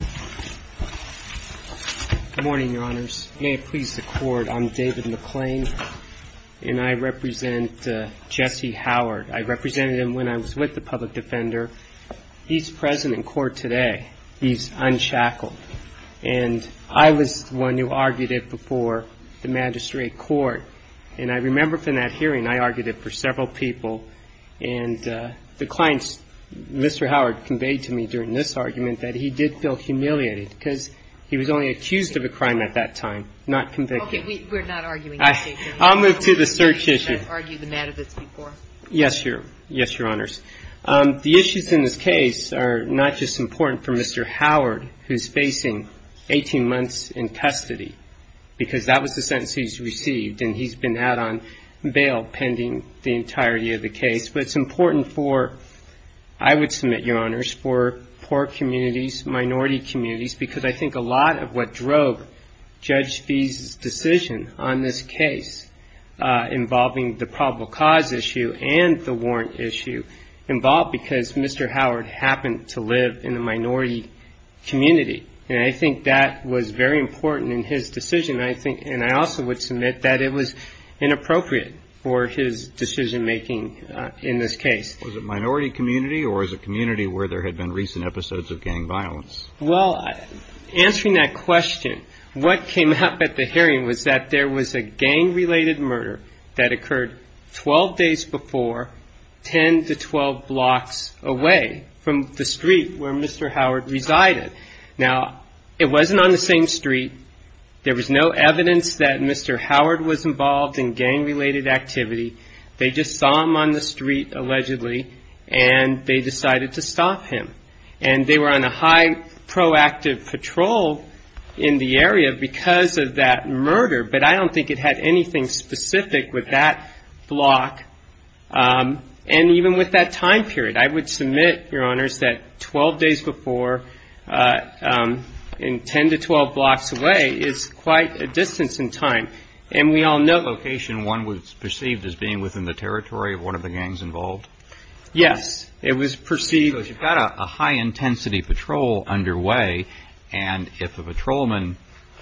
Good morning, Your Honors. May it please the Court, I'm David McClain, and I represent Jesse Howard. I represented him when I was with the Public Defender. He's present in court today. He's unchackled. And I was the one who argued it before the Magistrate Court, and I remember from that hearing, I argued it for several people, and the clients, Mr. Howard, conveyed to me during this argument that he did feel humiliated because he was only accused of a crime at that time, not convicted. I'll move to the search issue. Yes, Your Honors. The issues in this case are not just important for Mr. Howard, who's facing 18 months in custody, because that was the sentence he's received, and he's been out on bail pending the entirety of the case. But it's important for, I would submit, Your Honors, for poor communities, minority communities, because I think a lot of what drove Judge Fee's decision on this case involving the probable cause issue and the warrant issue involved because Mr. Howard happened to live in a minority community, and I think that was very important in his decision. And I also would submit that it was inappropriate for his decision-making in this case. Was it a minority community or was it a community where there had been recent episodes of gang violence? Well, answering that question, what came up at the hearing was that there was a gang-related murder that occurred 12 days before, 10 to 12 blocks away from the street where Mr. Howard resided. Now, it wasn't on the same street. There was no evidence that Mr. Howard was involved in gang-related activity. They just saw him on the street, allegedly, and they decided to stop him. And they were on a high proactive patrol in the area because of that murder, but I don't think it had anything specific with that block and even with that time period. I would submit, Your Honors, that 12 days before and 10 to 12 blocks away is quite a distance in time, and we all know that. Was that location one was perceived as being within the territory of one of the gangs involved? Yes, it was perceived. Because you've got a high-intensity patrol underway, and if a patrolman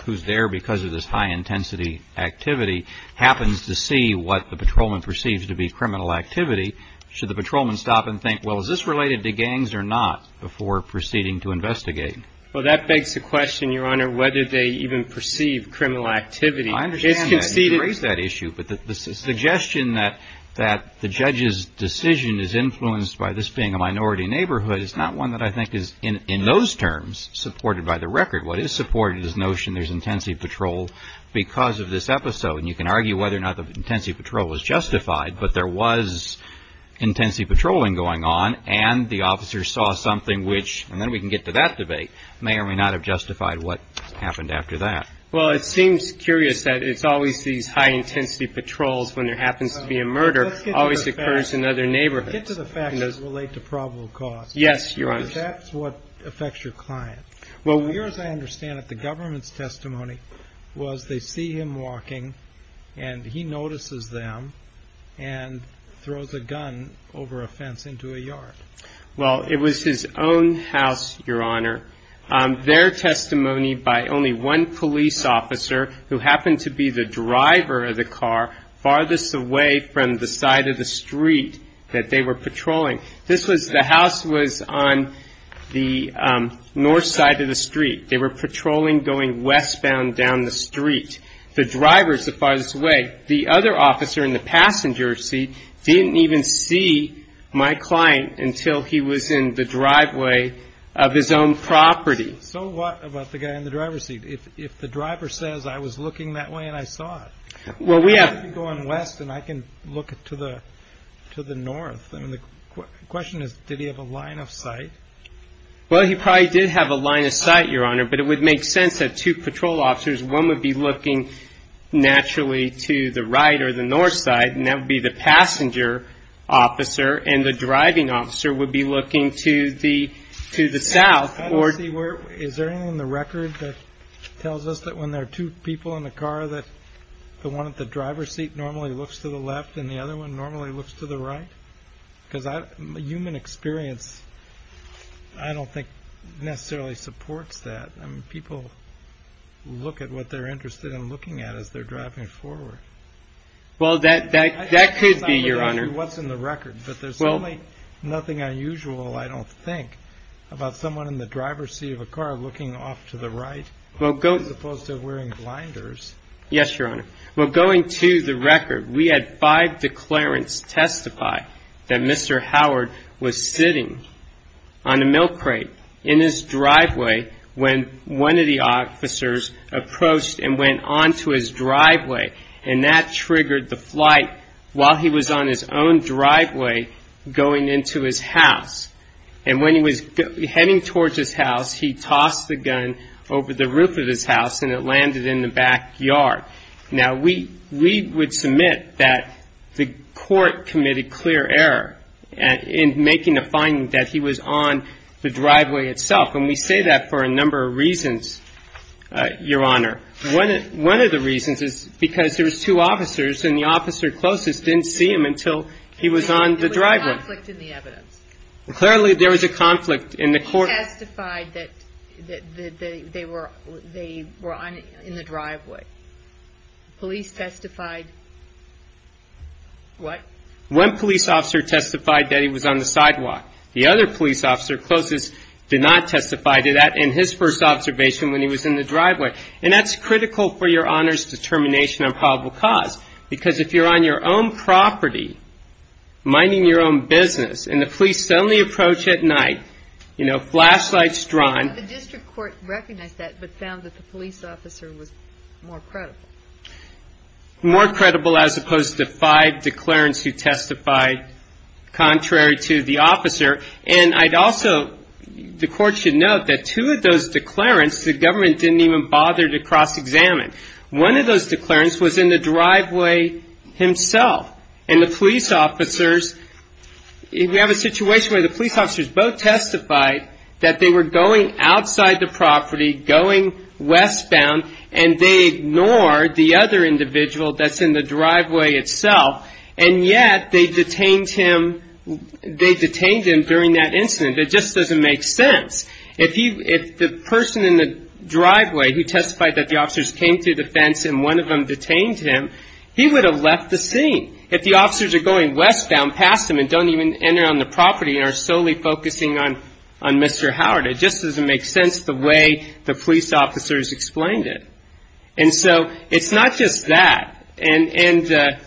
who's there because of this high-intensity activity happens to see what the patrolman perceives to be criminal activity, should the patrolman stop and think, well, is this related to gangs or not, before proceeding to investigate? Well, that begs the question, Your Honor, whether they even perceive criminal activity. I understand that. It's conceded. But the suggestion that the judge's decision is influenced by this being a minority neighborhood is not one that I think is, in those terms, supported by the record. What is supported is the notion there's intensity patrol because of this episode. And you can argue whether or not the intensity patrol was justified, but there was intensity patrolling going on, and the officers saw something which, and then we can get to that debate, may or may not have justified what happened after that. Well, it seems curious that it's always these high-intensity patrols when there happens to be a murder. It always occurs in other neighborhoods. Let's get to the facts that relate to probable cause. Yes, Your Honor. Because that's what affects your client. From what I understand of the government's testimony was they see him walking, and he notices them and throws a gun over a fence into a yard. Well, it was his own house, Your Honor. Their testimony by only one police officer who happened to be the driver of the car farthest away from the side of the street that they were patrolling. The house was on the north side of the street. They were patrolling going westbound down the street. The driver is the farthest away. The other officer in the passenger seat didn't even see my client until he was in the driveway of his own property. So what about the guy in the driver's seat? If the driver says, I was looking that way and I saw it, how could he be going west and I can look to the north? The question is, did he have a line of sight? Well, he probably did have a line of sight, Your Honor, but it would make sense that two patrol officers, one would be looking naturally to the right or the north side, and that would be the passenger officer, and the driving officer would be looking to the south. Is there anything in the record that tells us that when there are two people in the car, that the one at the driver's seat normally looks to the left and the other one normally looks to the right? Because human experience, I don't think, necessarily supports that. People look at what they're interested in looking at as they're driving forward. Well, that could be, Your Honor. I don't know what's in the record, but there's nothing unusual, I don't think, about someone in the driver's seat of a car looking off to the right as opposed to wearing blinders. Yes, Your Honor. Well, going to the record, we had five declarants testify that Mr. Howard was sitting on a milk crate in his driveway when one of the officers approached and went onto his driveway, and that triggered the flight while he was on his own driveway going into his house. And when he was heading towards his house, he tossed the gun over the roof of his house, and it landed in the backyard. Now, we would submit that the court committed clear error in making a finding that he was on the driveway itself, and we say that for a number of reasons, Your Honor. One of the reasons is because there was two officers, and the officer closest didn't see him until he was on the driveway. There was a conflict in the evidence. Clearly, there was a conflict in the court. Police testified that they were in the driveway. Police testified what? One police officer testified that he was on the sidewalk. The other police officer closest did not testify to that in his first observation when he was in the driveway, and that's critical for Your Honor's determination on probable cause because if you're on your own property minding your own business and the police suddenly approach at night, you know, flashlights drawn. The district court recognized that but found that the police officer was more credible. More credible as opposed to five declarants who testified contrary to the officer, and I'd also, the court should note that two of those declarants, the government didn't even bother to cross-examine. One of those declarants was in the driveway himself, and the police officers, we have a situation where the police officers both testified that they were going outside the property, going westbound, and they ignored the other individual that's in the driveway itself, and yet they detained him during that incident. It just doesn't make sense. If the person in the driveway who testified that the officers came through the fence and one of them detained him, he would have left the scene. If the officers are going westbound past him and don't even enter on the property and are solely focusing on Mr. Howard, it just doesn't make sense the way the police officers explained it. And so it's not just that, and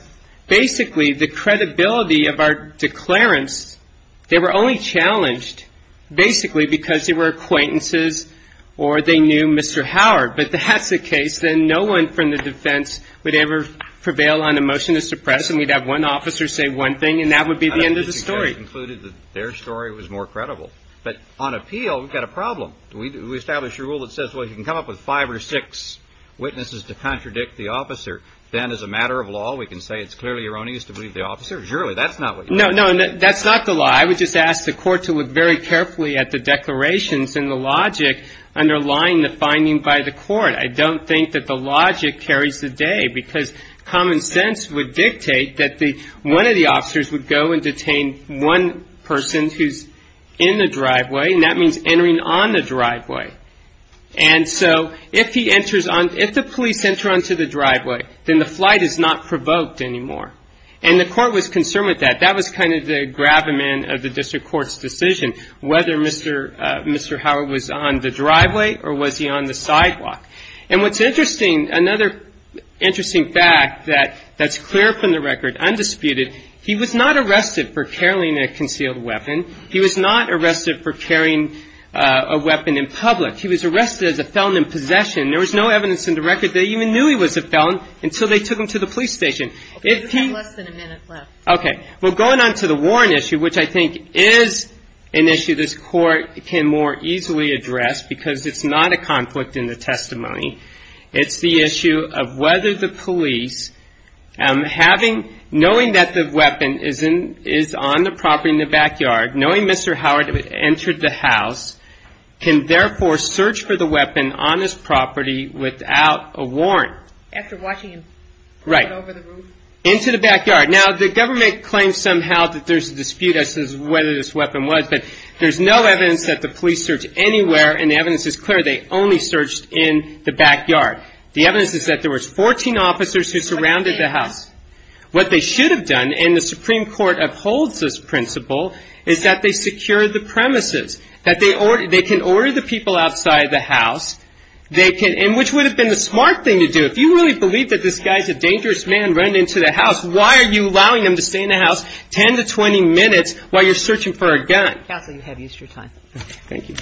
basically the credibility of our declarants, they were only challenged basically because they were acquaintances or they knew Mr. Howard, but that's the case. Then no one from the defense would ever prevail on a motion to suppress, and we'd have one officer say one thing, and that would be the end of the story. And I think you just concluded that their story was more credible. But on appeal, we've got a problem. We establish a rule that says, well, you can come up with five or six witnesses to contradict the officer. Then as a matter of law, we can say it's clearly erroneous to believe the officer. Surely that's not what you're saying. No, no, that's not the law. I would just ask the Court to look very carefully at the declarations and the logic underlying the finding by the Court. I don't think that the logic carries the day, because common sense would dictate that one of the officers would go and detain one person who's in the driveway, and that means entering on the driveway. And so if the police enter onto the driveway, then the flight is not provoked anymore. And the Court was concerned with that. That was kind of the gravamen of the district court's decision, whether Mr. Howard was on the driveway or was he on the sidewalk. And what's interesting, another interesting fact that's clear from the record, undisputed, he was not arrested for carrying a concealed weapon. He was not arrested for carrying a weapon in public. He was arrested as a felon in possession. There was no evidence in the record they even knew he was a felon until they took him to the police station. Okay. We have less than a minute left. Okay. Well, going on to the warrant issue, which I think is an issue this Court can more easily address, because it's not a conflict in the testimony. It's the issue of whether the police, knowing that the weapon is on the property in the backyard, knowing Mr. Howard entered the house, can therefore search for the weapon on his property without a warrant. After watching him run over the roof? Right. Into the backyard. Now, the government claims somehow that there's a dispute as to whether this weapon was, but there's no evidence that the police searched anywhere, and the evidence is clear. They only searched in the backyard. The evidence is that there was 14 officers who surrounded the house. What they should have done, and the Supreme Court upholds this principle, is that they secure the premises, that they can order the people outside the house, and which would have been the smart thing to do. If you really believe that this guy's a dangerous man running into the house, why are you allowing him to stay in the house 10 to 20 minutes while you're searching for a gun? Counsel, you have Easter time. Thank you.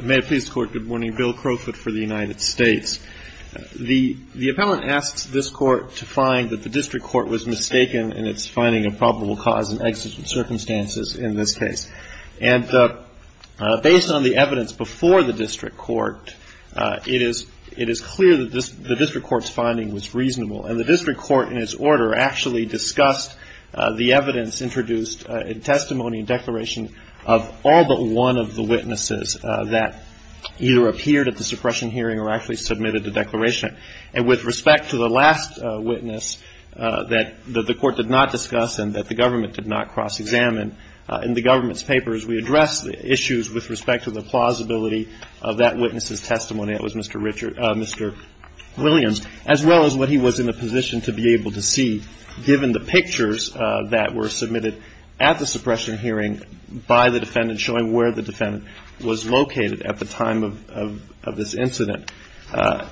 May it please the Court. Good morning. Bill Crowfoot for the United States. The appellant asks this Court to find that the district court was mistaken in its finding of probable cause and exigent circumstances in this case. And based on the evidence before the district court, it is clear that the district court's finding was reasonable, and the district court in its order actually discussed the evidence introduced in testimony and declaration of all but one of the witnesses that either appeared at the suppression hearing or actually submitted the declaration. And with respect to the last witness that the Court did not discuss and that the government did not cross-examine, in the government's papers we address the issues with respect to the plausibility of that witness's testimony, that was Mr. Williams, as well as what he was in a position to be able to see, given the pictures that were submitted at the suppression hearing by the defendant, showing where the defendant was located at the time of this incident.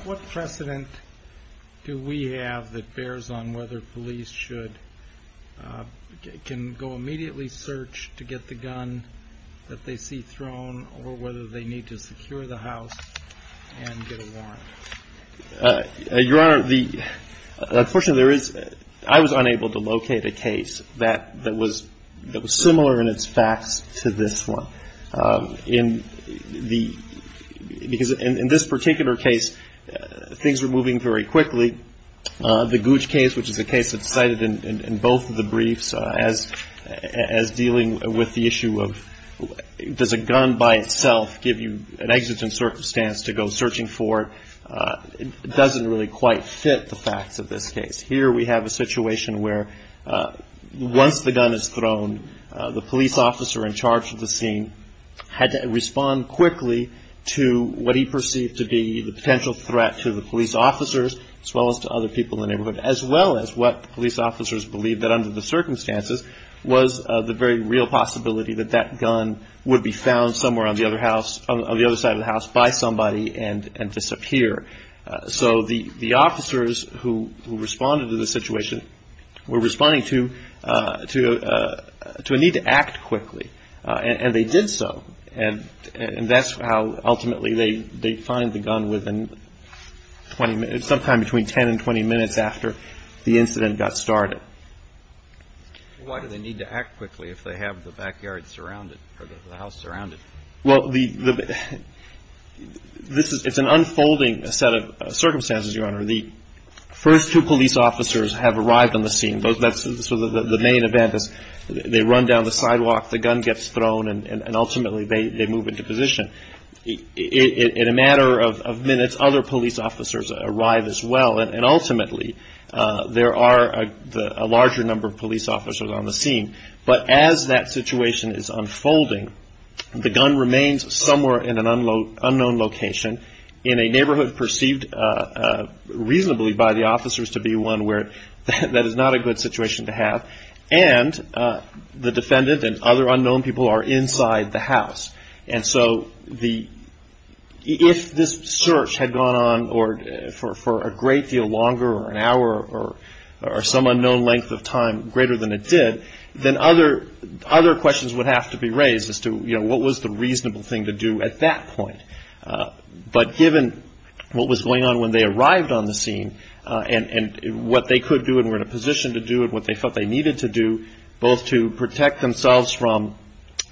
What precedent do we have that bears on whether police should go immediately search to get the gun that they see thrown or whether they need to secure the house and get a warrant? Your Honor, unfortunately, I was unable to locate a case that was similar in its facts to this one. In the ñ because in this particular case, things were moving very quickly. The Gouge case, which is a case that's cited in both of the briefs as dealing with the issue of does a gun by itself give you an exigent circumstance to go searching for it, doesn't really quite fit the facts of this case. Here we have a situation where once the gun is thrown, the police officer in charge of the scene had to respond quickly to what he perceived to be the potential threat to the police officers, as well as to other people in the neighborhood, as well as what police officers believed that under the circumstances was the very real possibility that that gun would be found somewhere on the other side of the house by somebody and disappear. So the officers who responded to the situation were responding to a need to act quickly. And they did so. And that's how ultimately they find the gun within 20 minutes, sometime between 10 and 20 minutes after the incident got started. Why do they need to act quickly if they have the backyard surrounded or the house surrounded? Well, it's an unfolding set of circumstances, Your Honor. The first two police officers have arrived on the scene. So the main event is they run down the sidewalk, the gun gets thrown, and ultimately they move into position. In a matter of minutes, other police officers arrive as well. And ultimately, there are a larger number of police officers on the scene. But as that situation is unfolding, the gun remains somewhere in an unknown location, in a neighborhood perceived reasonably by the officers to be one where that is not a good situation to have. And the defendant and other unknown people are inside the house. And so if this search had gone on for a great deal longer or an hour or some unknown length of time greater than it did, then other questions would have to be raised as to, you know, what was the reasonable thing to do at that point. But given what was going on when they arrived on the scene and what they could do and were in a position to do and what they felt they needed to do, both to protect themselves from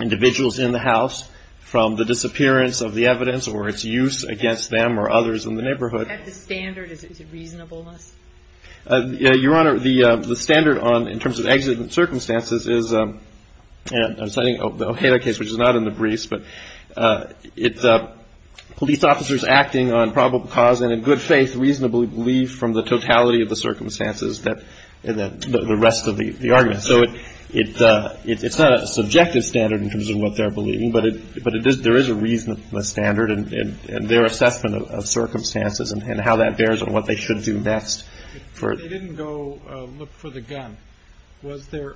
individuals in the house, from the disappearance of the evidence or its use against them or others in the neighborhood. The standard, is it reasonableness? Your Honor, the standard on, in terms of accident circumstances, is, and I'm citing the O'Hara case, which is not in the briefs, but it's police officers acting on probable cause and in good faith reasonably believe from the totality of the circumstances that the rest of the argument. So it's not a subjective standard in terms of what they're believing, but there is a reasonableness standard in their assessment of circumstances and how that bears on what they should do next. If they didn't go look for the gun, was there,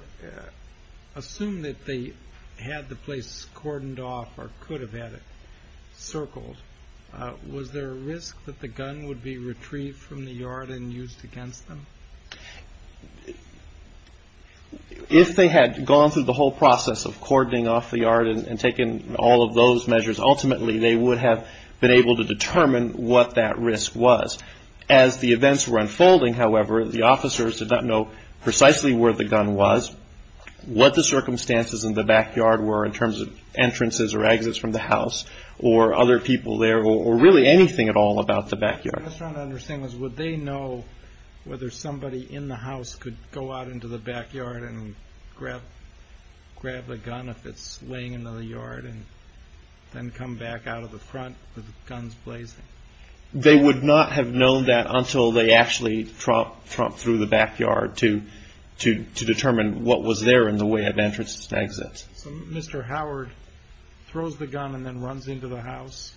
assume that they had the place cordoned off or could have had it circled, was there a risk that the gun would be retrieved from the yard and used against them? If they had gone through the whole process of cordoning off the yard and taken all of those measures, ultimately they would have been able to determine what that risk was. As the events were unfolding, however, the officers did not know precisely where the gun was, what the circumstances in the backyard were in terms of entrances or exits from the house or other people there or really anything at all about the backyard. I just want to understand this. Would they know whether somebody in the house could go out into the backyard and grab the gun if it's laying in the yard and then come back out of the front with guns blazing? They would not have known that until they actually tromped through the backyard to determine what was there in the way of entrances and exits. So Mr. Howard throws the gun and then runs into the house?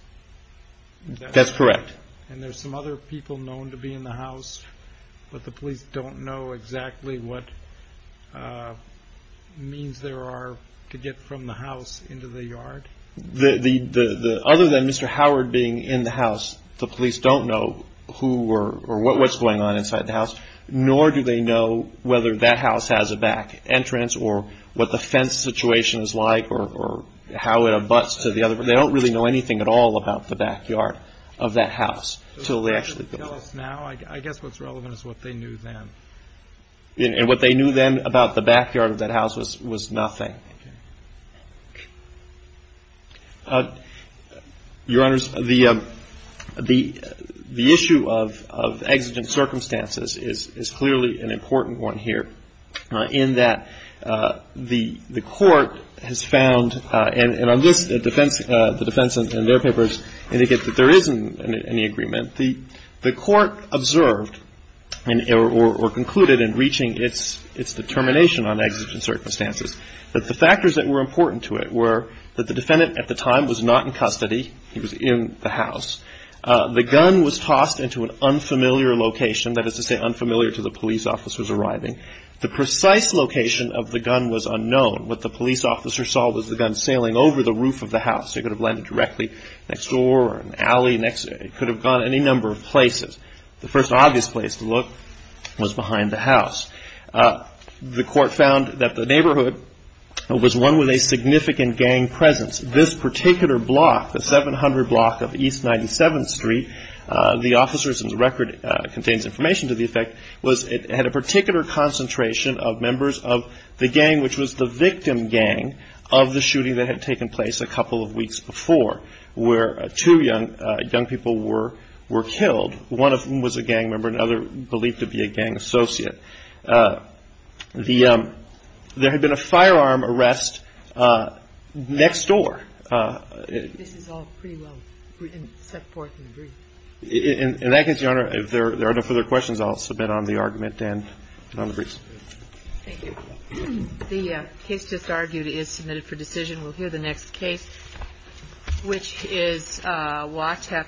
That's correct. And there's some other people known to be in the house, but the police don't know exactly what means there are to get from the house into the yard? Other than Mr. Howard being in the house, the police don't know who or what's going on inside the house, nor do they know whether that house has a back entrance or what the fence situation is like or how it abuts to the other. They don't really know anything at all about the backyard of that house until they actually go through. What else now? I guess what's relevant is what they knew then. And what they knew then about the backyard of that house was nothing. Okay. Your Honors, the issue of exigent circumstances is clearly an important one here, in that the Court has found, and on this, the defense and their papers indicate that there isn't any agreement. The Court observed or concluded in reaching its determination on exigent circumstances that the factors that were important to it were that the defendant at the time was not in custody. He was in the house. The gun was tossed into an unfamiliar location. That is to say unfamiliar to the police officers arriving. The precise location of the gun was unknown. What the police officer saw was the gun sailing over the roof of the house. It could have landed directly next door or an alley. It could have gone any number of places. The first obvious place to look was behind the house. The Court found that the neighborhood was one with a significant gang presence. This particular block, the 700 block of East 97th Street, the officers' record contains information to the effect, was it had a particular concentration of members of the gang, which was the victim gang of the shooting that had taken place a couple of weeks before, where two young people were killed. One of them was a gang member. Another believed to be a gang associate. There had been a firearm arrest next door. This is all pretty well set forth in the brief. In that case, Your Honor, if there are no further questions, I'll submit on the argument and on the briefs. Thank you. The case just argued is submitted for decision. We'll hear the next case, which is Watek v. Wu.